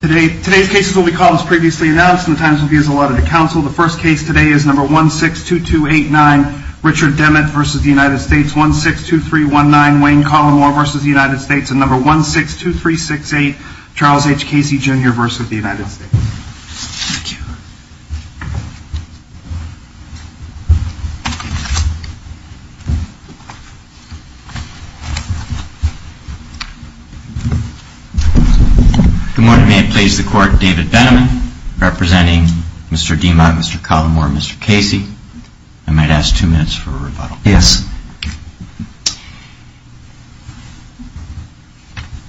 Today's case is what we call as previously announced in the Times-Movie as allotted to Council. The first case today is number 162289, Richard Demmott v. United States, 162319, Wayne Collimore v. United States, and number 162368, Charles H. Casey Jr. v. United States. Thank you. Good morning. May I please the court, David Benneman, representing Mr. Demmott, Mr. Collimore, Mr. Casey. I might ask two minutes for a rebuttal. Yes.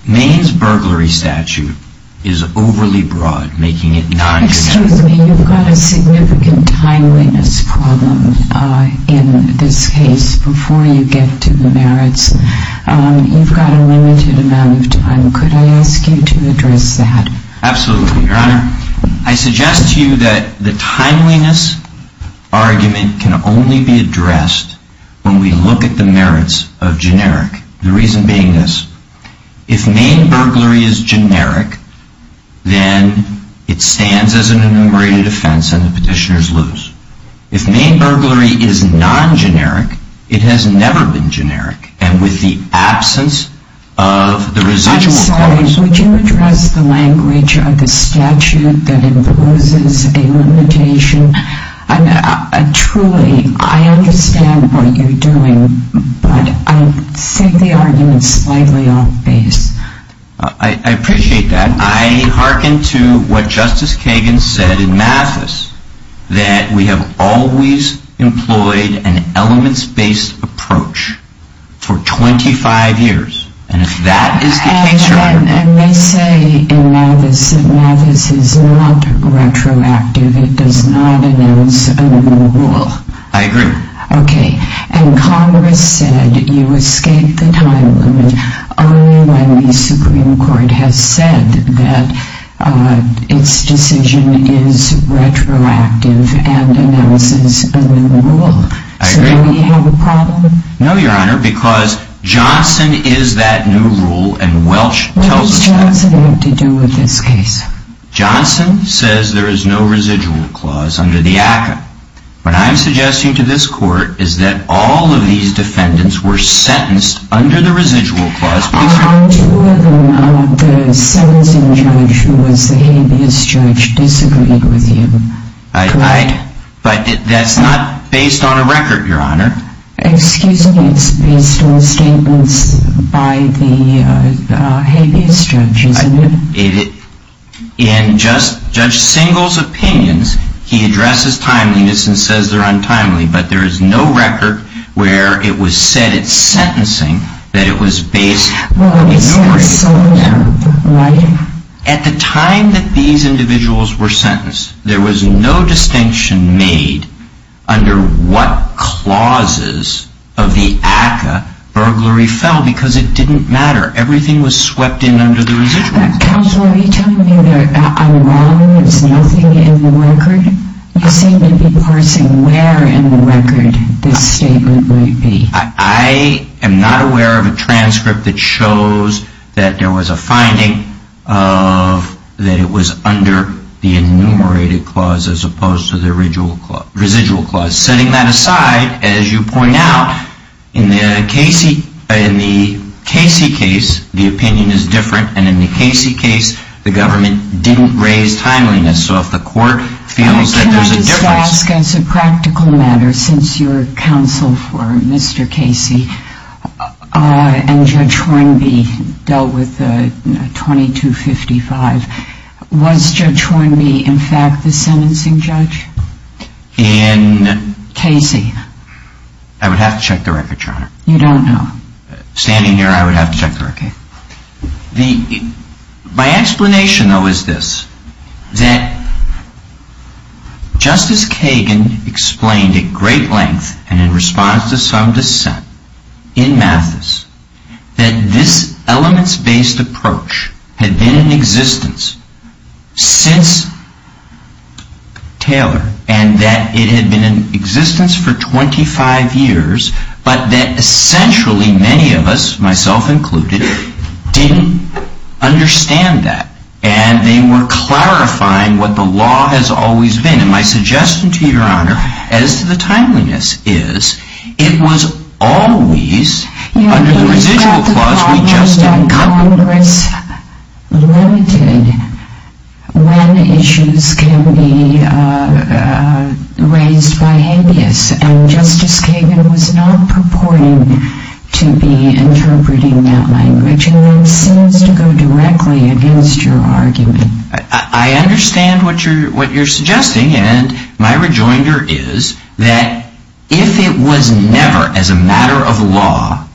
Maine's burglary statute is overly broad, making it non-judicial. Excuse me, you've got a significant timeliness problem in this case before you get to the merits. You've got a limited amount of time. Could I ask you to address that? Absolutely, Your Honor. I suggest to you that the timeliness argument can only be addressed when we look at the merits of generic, the reason being this. If Maine burglary is generic, then it stands as an enumerated offense and the petitioners lose. If Maine burglary is non-generic, it has never been generic, and with the absence of the residual. As always, would you address the language of the statute that imposes a limitation? Truly, I understand what you're doing, but I think the argument is slightly off base. I appreciate that. I hearken to what Justice Kagan said in Mathis, that we have always employed an elements-based approach for 25 years. And they say in Mathis that Mathis is not retroactive. It does not announce a new rule. I agree. Okay, and Congress said you escape the time limit only when the Supreme Court has said that its decision is retroactive and announces a new rule. I agree. So do we have a problem? No, Your Honor, because Johnson is that new rule and Welch tells us that. What does Johnson have to do with this case? Johnson says there is no residual clause under the ACCA. What I'm suggesting to this court is that all of these defendants were sentenced under the residual clause. Are two of them out of the sentencing judge who was the habeas judge disagreed with you? I, I, but that's not based on a record, Your Honor. Excuse me, it's based on statements by the habeas judge, isn't it? It, in Judge Singal's opinions, he addresses timeliness and says they're untimely, but there is no record where it was said at sentencing that it was based on a new residual clause. Well, it's that sort of writing. At the time that these individuals were sentenced, there was no distinction made under what clauses of the ACCA burglary fell because it didn't matter. Everything was swept in under the residual clause. Counselor, are you telling me that I'm wrong? There's nothing in the record? You seem to be parsing where in the record this statement might be. I, I am not aware of a transcript that shows that there was a finding of that it was under the enumerated clause as opposed to the residual clause. Setting that aside, as you point out, in the Casey, in the Casey case, the opinion is different, and in the Casey case, the government didn't raise timeliness. So if the court feels that there's a difference. I would ask as a practical matter, since you're counsel for Mr. Casey and Judge Hornby dealt with 2255, was Judge Hornby in fact the sentencing judge in Casey? I would have to check the record, Your Honor. You don't know. Standing here, I would have to check the record. My explanation, though, is this. That Justice Kagan explained at great length and in response to some dissent in Mathis that this elements-based approach had been in existence since Taylor. And that it had been in existence for 25 years, but that essentially many of us, myself included, didn't understand that. And they were clarifying what the law has always been. And my suggestion to Your Honor, as to the timeliness is, it was always under the residual clause we just discussed. Congress limited when issues can be raised by habeas, and Justice Kagan was not purporting to be interpreting that language. And that seems to go directly against your argument. I understand what you're suggesting, and my rejoinder is that if it was never, as a matter of law,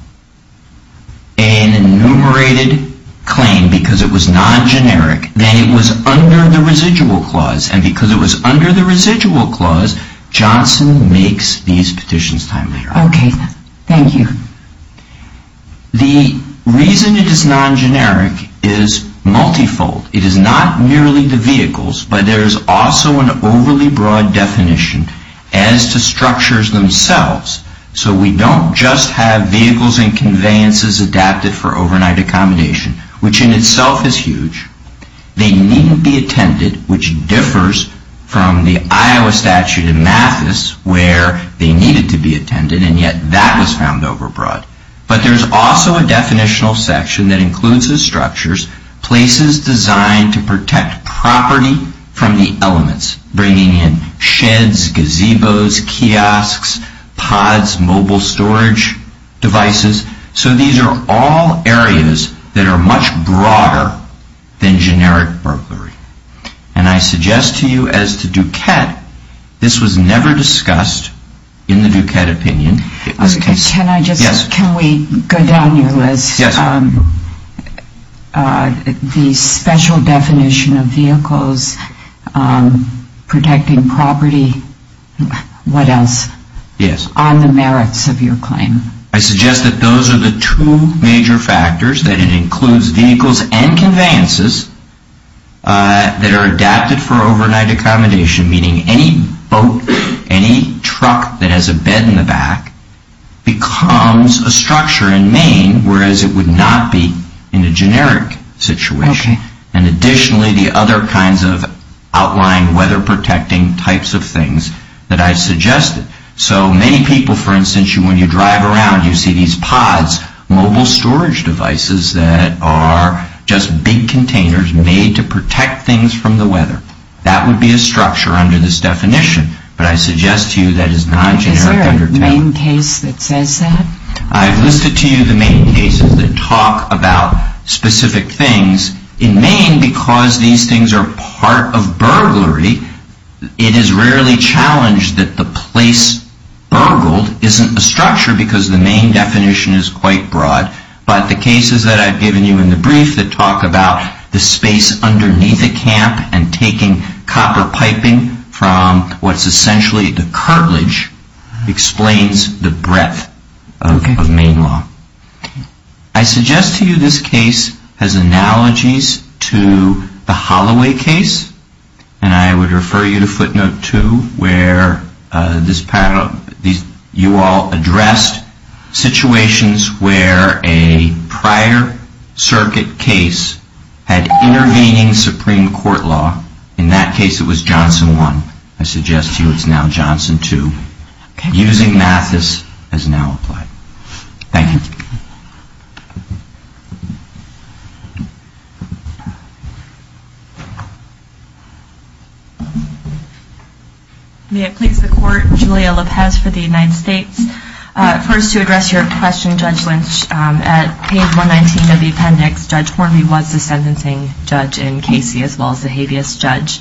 an enumerated claim because it was non-generic, then it was under the residual clause. And because it was under the residual clause, Johnson makes these petitions timely. Okay, thank you. The reason it is non-generic is multifold. It is not merely the vehicles, but there is also an overly broad definition as to structures themselves. So we don't just have vehicles and conveyances adapted for overnight accommodation, which in itself is huge. They needn't be attended, which differs from the Iowa statute in Mathis where they needed to be attended, and yet that was found overbroad. But there's also a definitional section that includes the structures, places designed to protect property from the elements, bringing in sheds, gazebos, kiosks, pods, mobile storage devices. So these are all areas that are much broader than generic burglary. And I suggest to you as to Duquette, this was never discussed in the Duquette opinion. Can we go down your list? Yes. The special definition of vehicles protecting property, what else? Yes. On the merits of your claim. I suggest that those are the two major factors, that it includes vehicles and conveyances that are adapted for overnight accommodation, meaning any boat, any truck that has a bed in the back becomes a structure in Maine, whereas it would not be in a generic situation. Okay. And additionally, the other kinds of outlined weather-protecting types of things that I suggested. So many people, for instance, when you drive around, you see these pods, mobile storage devices that are just big containers made to protect things from the weather. That would be a structure under this definition. But I suggest to you that is not generic. Is there a Maine case that says that? I've listed to you the Maine cases that talk about specific things. In Maine, because these things are part of burglary, it is rarely challenged that the place burgled isn't a structure because the Maine definition is quite broad. But the cases that I've given you in the brief that talk about the space underneath a camp and taking copper piping from what's essentially the cartilage explains the breadth of Maine law. I suggest to you this case has analogies to the Holloway case. And I would refer you to footnote 2 where you all addressed situations where a prior circuit case had intervening Supreme Court law. In that case, it was Johnson 1. I suggest to you it's now Johnson 2. Using math, this has now applied. Thank you. May it please the Court, Julia Lopez for the United States. First, to address your question, Judge Lynch, at page 119 of the appendix, Judge Hornby was the sentencing judge in Casey as well as the habeas judge.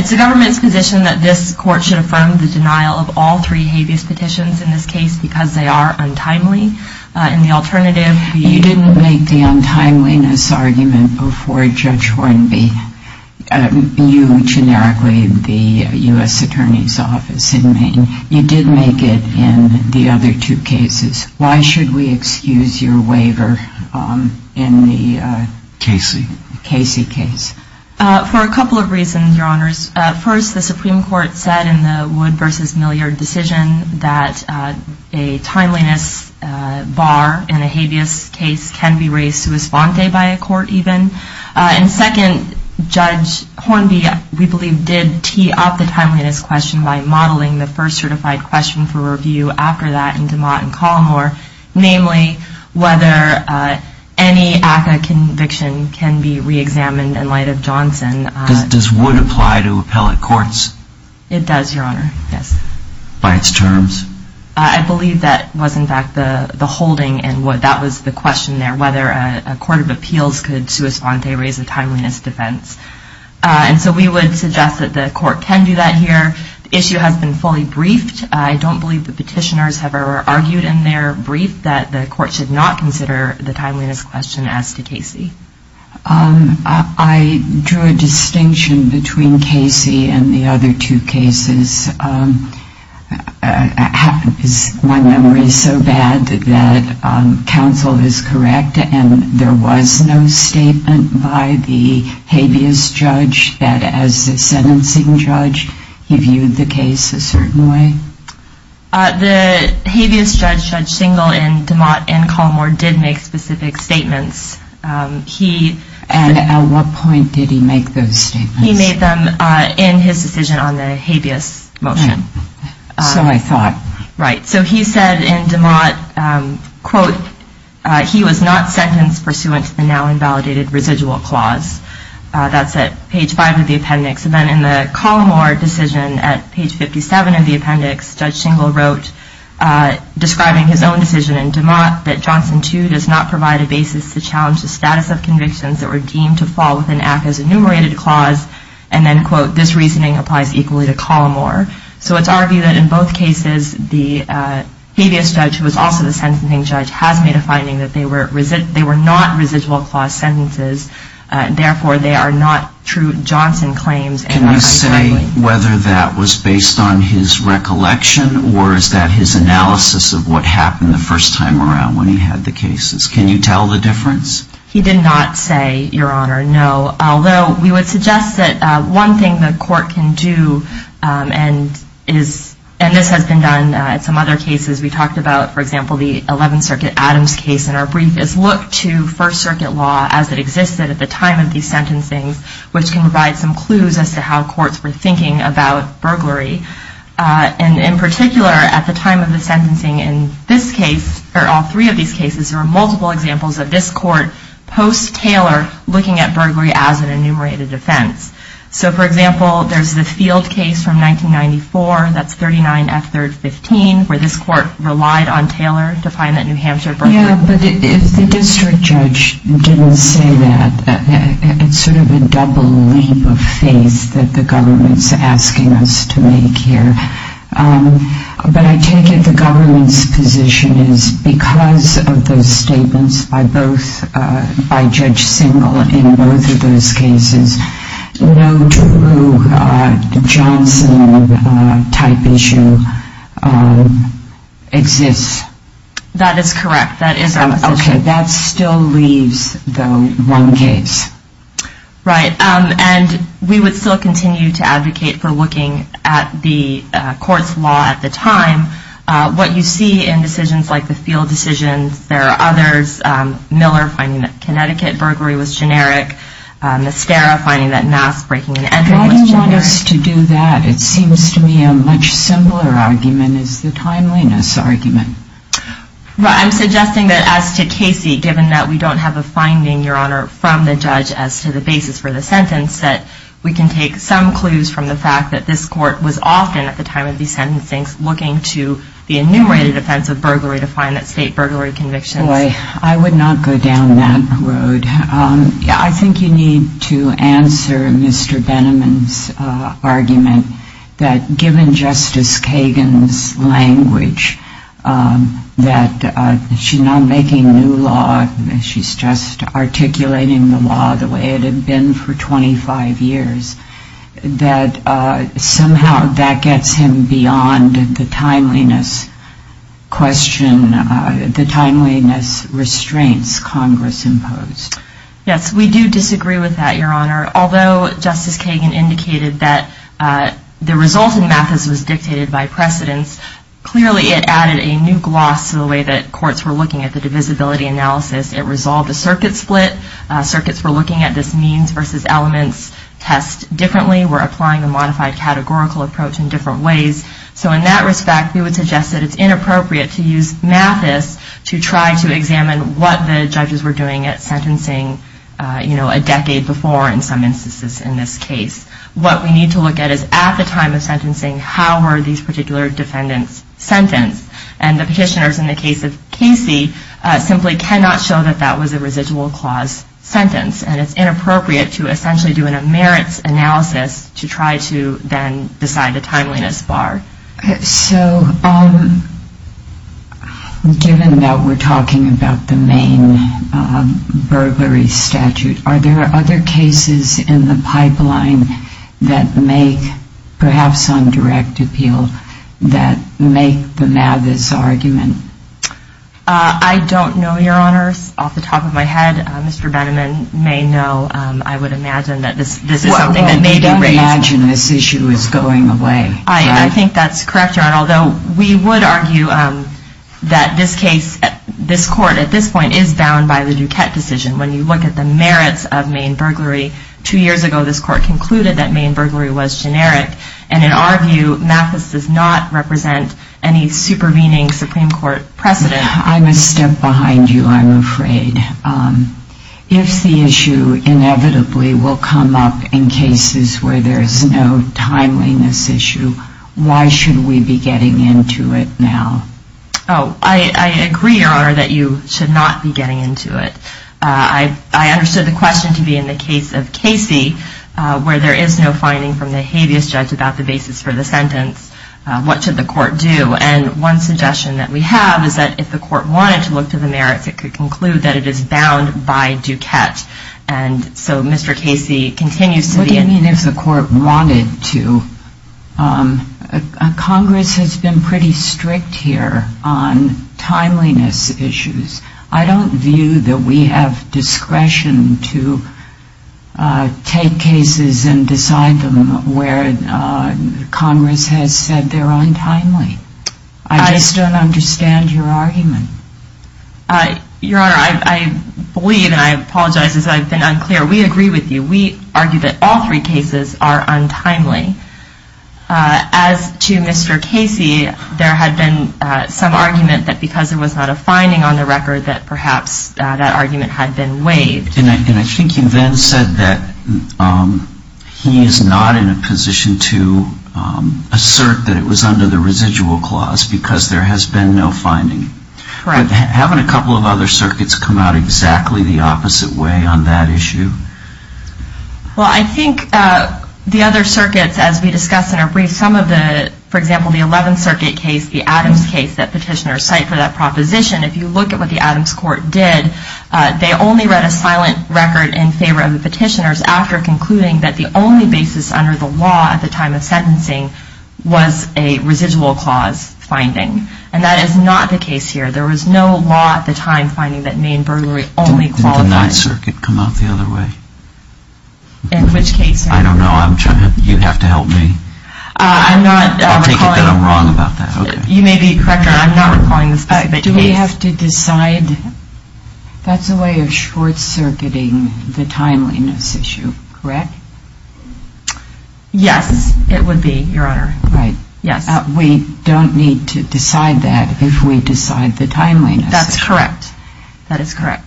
It's the government's position that this court should affirm the denial of all three habeas petitions in this case because they are untimely. In the alternative, you didn't make the untimeliness argument before, Judge Hornby, you generically the U.S. Attorney's Office in Maine. You did make it in the other two cases. Why should we excuse your waiver in the Casey case? For a couple of reasons, Your Honors. First, the Supreme Court said in the Wood v. Milliard decision that a timeliness bar in a habeas case can be raised sua sponte by a court even. And second, Judge Hornby, we believe, did tee up the timeliness question by modeling the first certified question for review after that in DeMott and Colomore, namely whether any ACCA conviction can be reexamined in light of Johnson. Does Wood apply to appellate courts? It does, Your Honor, yes. By its terms? I believe that was in fact the holding and that was the question there, whether a court of appeals could sua sponte, raise a timeliness defense. And so we would suggest that the court can do that here. The issue has been fully briefed. I don't believe the petitioners have ever argued in their brief that the court should not consider the timeliness question as to Casey. I drew a distinction between Casey and the other two cases. My memory is so bad that counsel is correct and there was no statement by the habeas judge that as a sentencing judge he viewed the case a certain way? The habeas judge, Judge Singel, in DeMott and Colomore did make specific statements. And at what point did he make those statements? He made them in his decision on the habeas motion. So I thought. Right. So he said in DeMott, quote, he was not sentenced pursuant to the now invalidated residual clause. That's at page five of the appendix. And then in the Colomore decision at page 57 of the appendix, Judge Singel wrote, describing his own decision in DeMott, that Johnson, too, does not provide a basis to challenge the status of convictions that were deemed to fall within ACCA's enumerated clause. And then, quote, this reasoning applies equally to Colomore. So it's argued that in both cases the habeas judge, who was also the sentencing judge, has made a finding that they were not residual clause sentences. Therefore, they are not true Johnson claims. Can you say whether that was based on his recollection? Or is that his analysis of what happened the first time around when he had the cases? Can you tell the difference? He did not say, Your Honor, no. Although we would suggest that one thing the court can do, and this has been done in some other cases we talked about, for example, the 11th Circuit Adams case in our brief, is look to First Circuit law as it existed at the time of these sentencings, which can provide some clues as to how courts were thinking about burglary. And in particular, at the time of the sentencing in this case, or all three of these cases, there were multiple examples of this court post-Taylor looking at burglary as an enumerated offense. So, for example, there's the Field case from 1994, that's 39 F3rd 15, where this court relied on Taylor to find that New Hampshire burglary. But if the district judge didn't say that, it's sort of a double leap of faith that the government's asking us to make here. But I take it the government's position is because of those statements by Judge Singal in both of those cases, no true Johnson type issue exists. That is correct, that is our position. Okay, that still leaves, though, one case. Right, and we would still continue to advocate for looking at the court's law at the time. What you see in decisions like the Field decisions, there are others, Miller finding that Connecticut burglary was generic, It seems to me a much simpler argument is the timeliness argument. I'm suggesting that as to Casey, given that we don't have a finding, Your Honor, from the judge as to the basis for the sentence, that we can take some clues from the fact that this court was often, at the time of the sentencing, looking to the enumerated offense of burglary to find that state burglary conviction. I would not go down that road. I think you need to answer Mr. Benamon's argument that given Justice Kagan's language, that she's not making new law, she's just articulating the law the way it had been for 25 years, that somehow that gets him beyond the timeliness question, the timeliness restraints Congress imposed. Yes, we do disagree with that, Your Honor. Although Justice Kagan indicated that the result in Mathis was dictated by precedence, clearly it added a new gloss to the way that courts were looking at the divisibility analysis. It resolved a circuit split. Circuits were looking at this means versus elements test differently. We're applying a modified categorical approach in different ways. So in that respect, we would suggest that it's inappropriate to use Mathis to try to examine what the judges were doing at sentencing a decade before in some instances in this case. What we need to look at is at the time of sentencing, how were these particular defendants sentenced? And the petitioners in the case of Casey simply cannot show that that was a residual clause sentence. And it's inappropriate to essentially do an emeritus analysis to try to then decide the timeliness bar. So given that we're talking about the main burglary statute, are there other cases in the pipeline that make, perhaps on direct appeal, that make the Mathis argument? I don't know, Your Honor, off the top of my head. Mr. Benneman may know. I would imagine that this is something that may be raised. Well, we don't imagine this issue is going away. I think that's correct, Your Honor, although we would argue that this case, this court at this point, is bound by the Duquette decision. When you look at the merits of main burglary, two years ago this court concluded that main burglary was generic. And in our view, Mathis does not represent any supervening Supreme Court precedent. I'm a step behind you, I'm afraid. If the issue inevitably will come up in cases where there's no timeliness issue, why should we be getting into it now? Oh, I agree, Your Honor, that you should not be getting into it. I understood the question to be in the case of Casey, where there is no finding from the habeas judge about the basis for the sentence. What should the court do? And one suggestion that we have is that if the court wanted to look to the merits, it could conclude that it is bound by Duquette. And so Mr. Casey continues to be in... What do you mean if the court wanted to? Congress has been pretty strict here on timeliness issues. I don't view that we have discretion to take cases and decide them where Congress has said they're untimely. I just don't understand your argument. Your Honor, I believe, and I apologize as I've been unclear, we agree with you. We argue that all three cases are untimely. As to Mr. Casey, there had been some argument that because there was not a finding on the record that perhaps that argument had been waived. And I think you then said that he is not in a position to assert that it was under the residual clause because there has been no finding. Correct. Haven't a couple of other circuits come out exactly the opposite way on that issue? Well, I think the other circuits, as we discussed in our brief, some of the... For example, the 11th Circuit case, the Adams case that petitioners cite for that proposition. If you look at what the Adams court did, they only read a silent record in favor of the petitioners after concluding that the only basis under the law at the time of sentencing was a residual clause finding. And that is not the case here. There was no law at the time finding that Maine burglary only qualified... Didn't the 9th Circuit come out the other way? In which case? I don't know. You'd have to help me. I'm not recalling... I'll take it that I'm wrong about that. You may be correct, Your Honor. I'm not recalling the specific case. Do we have to decide? That's a way of short-circuiting the timeliness issue, correct? Yes, it would be, Your Honor. Right. Yes. We don't need to decide that if we decide the timeliness. That's correct. That is correct.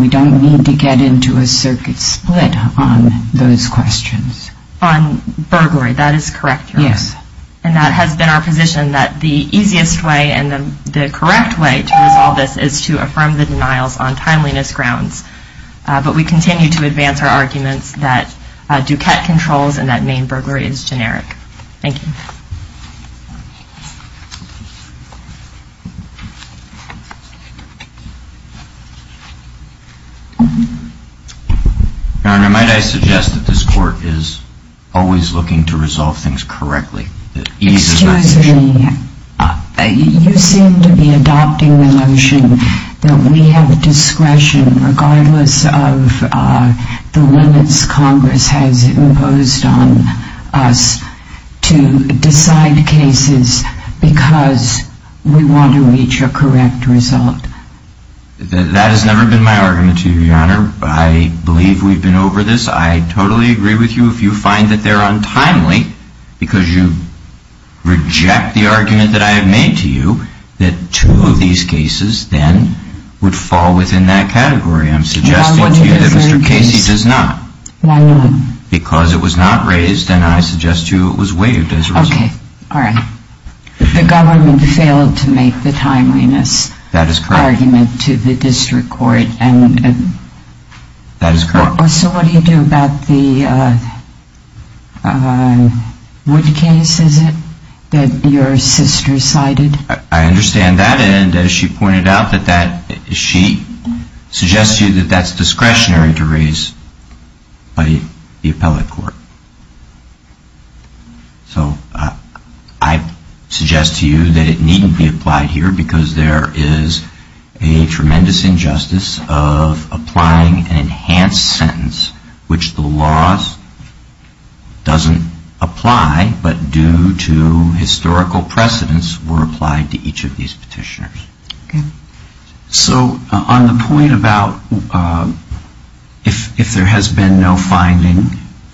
We don't need to get into a circuit split on those questions. On burglary, that is correct, Your Honor. Yes. And that has been our position that the easiest way and the correct way to resolve this is to affirm the denials on timeliness grounds. But we continue to advance our arguments that Duquette controls and that Maine burglary is generic. Thank you. Your Honor, might I suggest that this Court is always looking to resolve things correctly? Excuse me. You seem to be adopting the notion that we have discretion regardless of the limits Congress has imposed on us to decide cases because we want to reach a correct result. That has never been my argument to you, Your Honor. I believe we've been over this. I totally agree with you. If you find that they're untimely because you reject the argument that I have made to you, that two of these cases then would fall within that category. I'm suggesting to you that Mr. Casey does not. Why not? Because it was not raised and I suggest to you it was waived as a result. Okay. All right. The government failed to make the timeliness argument to the district court. That is correct. So what do you do about the wood case, is it, that your sister cited? I understand that and as she pointed out that she suggests to you that that's discretionary to raise by the appellate court. So I suggest to you that it needn't be applied here because there is a tremendous injustice of applying an enhanced sentence which the laws doesn't apply but due to historical precedence were applied to each of these petitioners. Okay. So on the point about if there has been no finding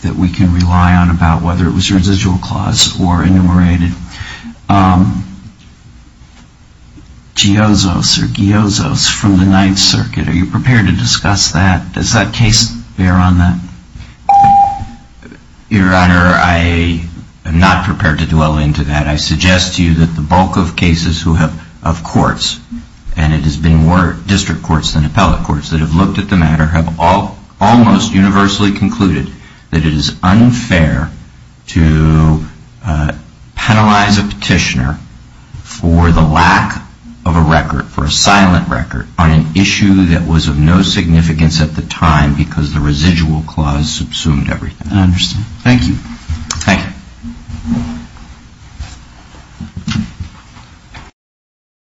that we can rely on about whether it was residual clause or enumerated, Giozos or Giozos from the Ninth Circuit, are you prepared to discuss that? Does that case bear on that? Your Honor, I am not prepared to dwell into that. I suggest to you that the bulk of cases of courts and it has been more district courts than appellate courts that have looked at the matter have almost universally concluded that it is unfair to penalize a petitioner for the lack of a record, for a silent record, on an issue that was of no significance at the time because the residual clause subsumed everything. I understand. Thank you. Thank you.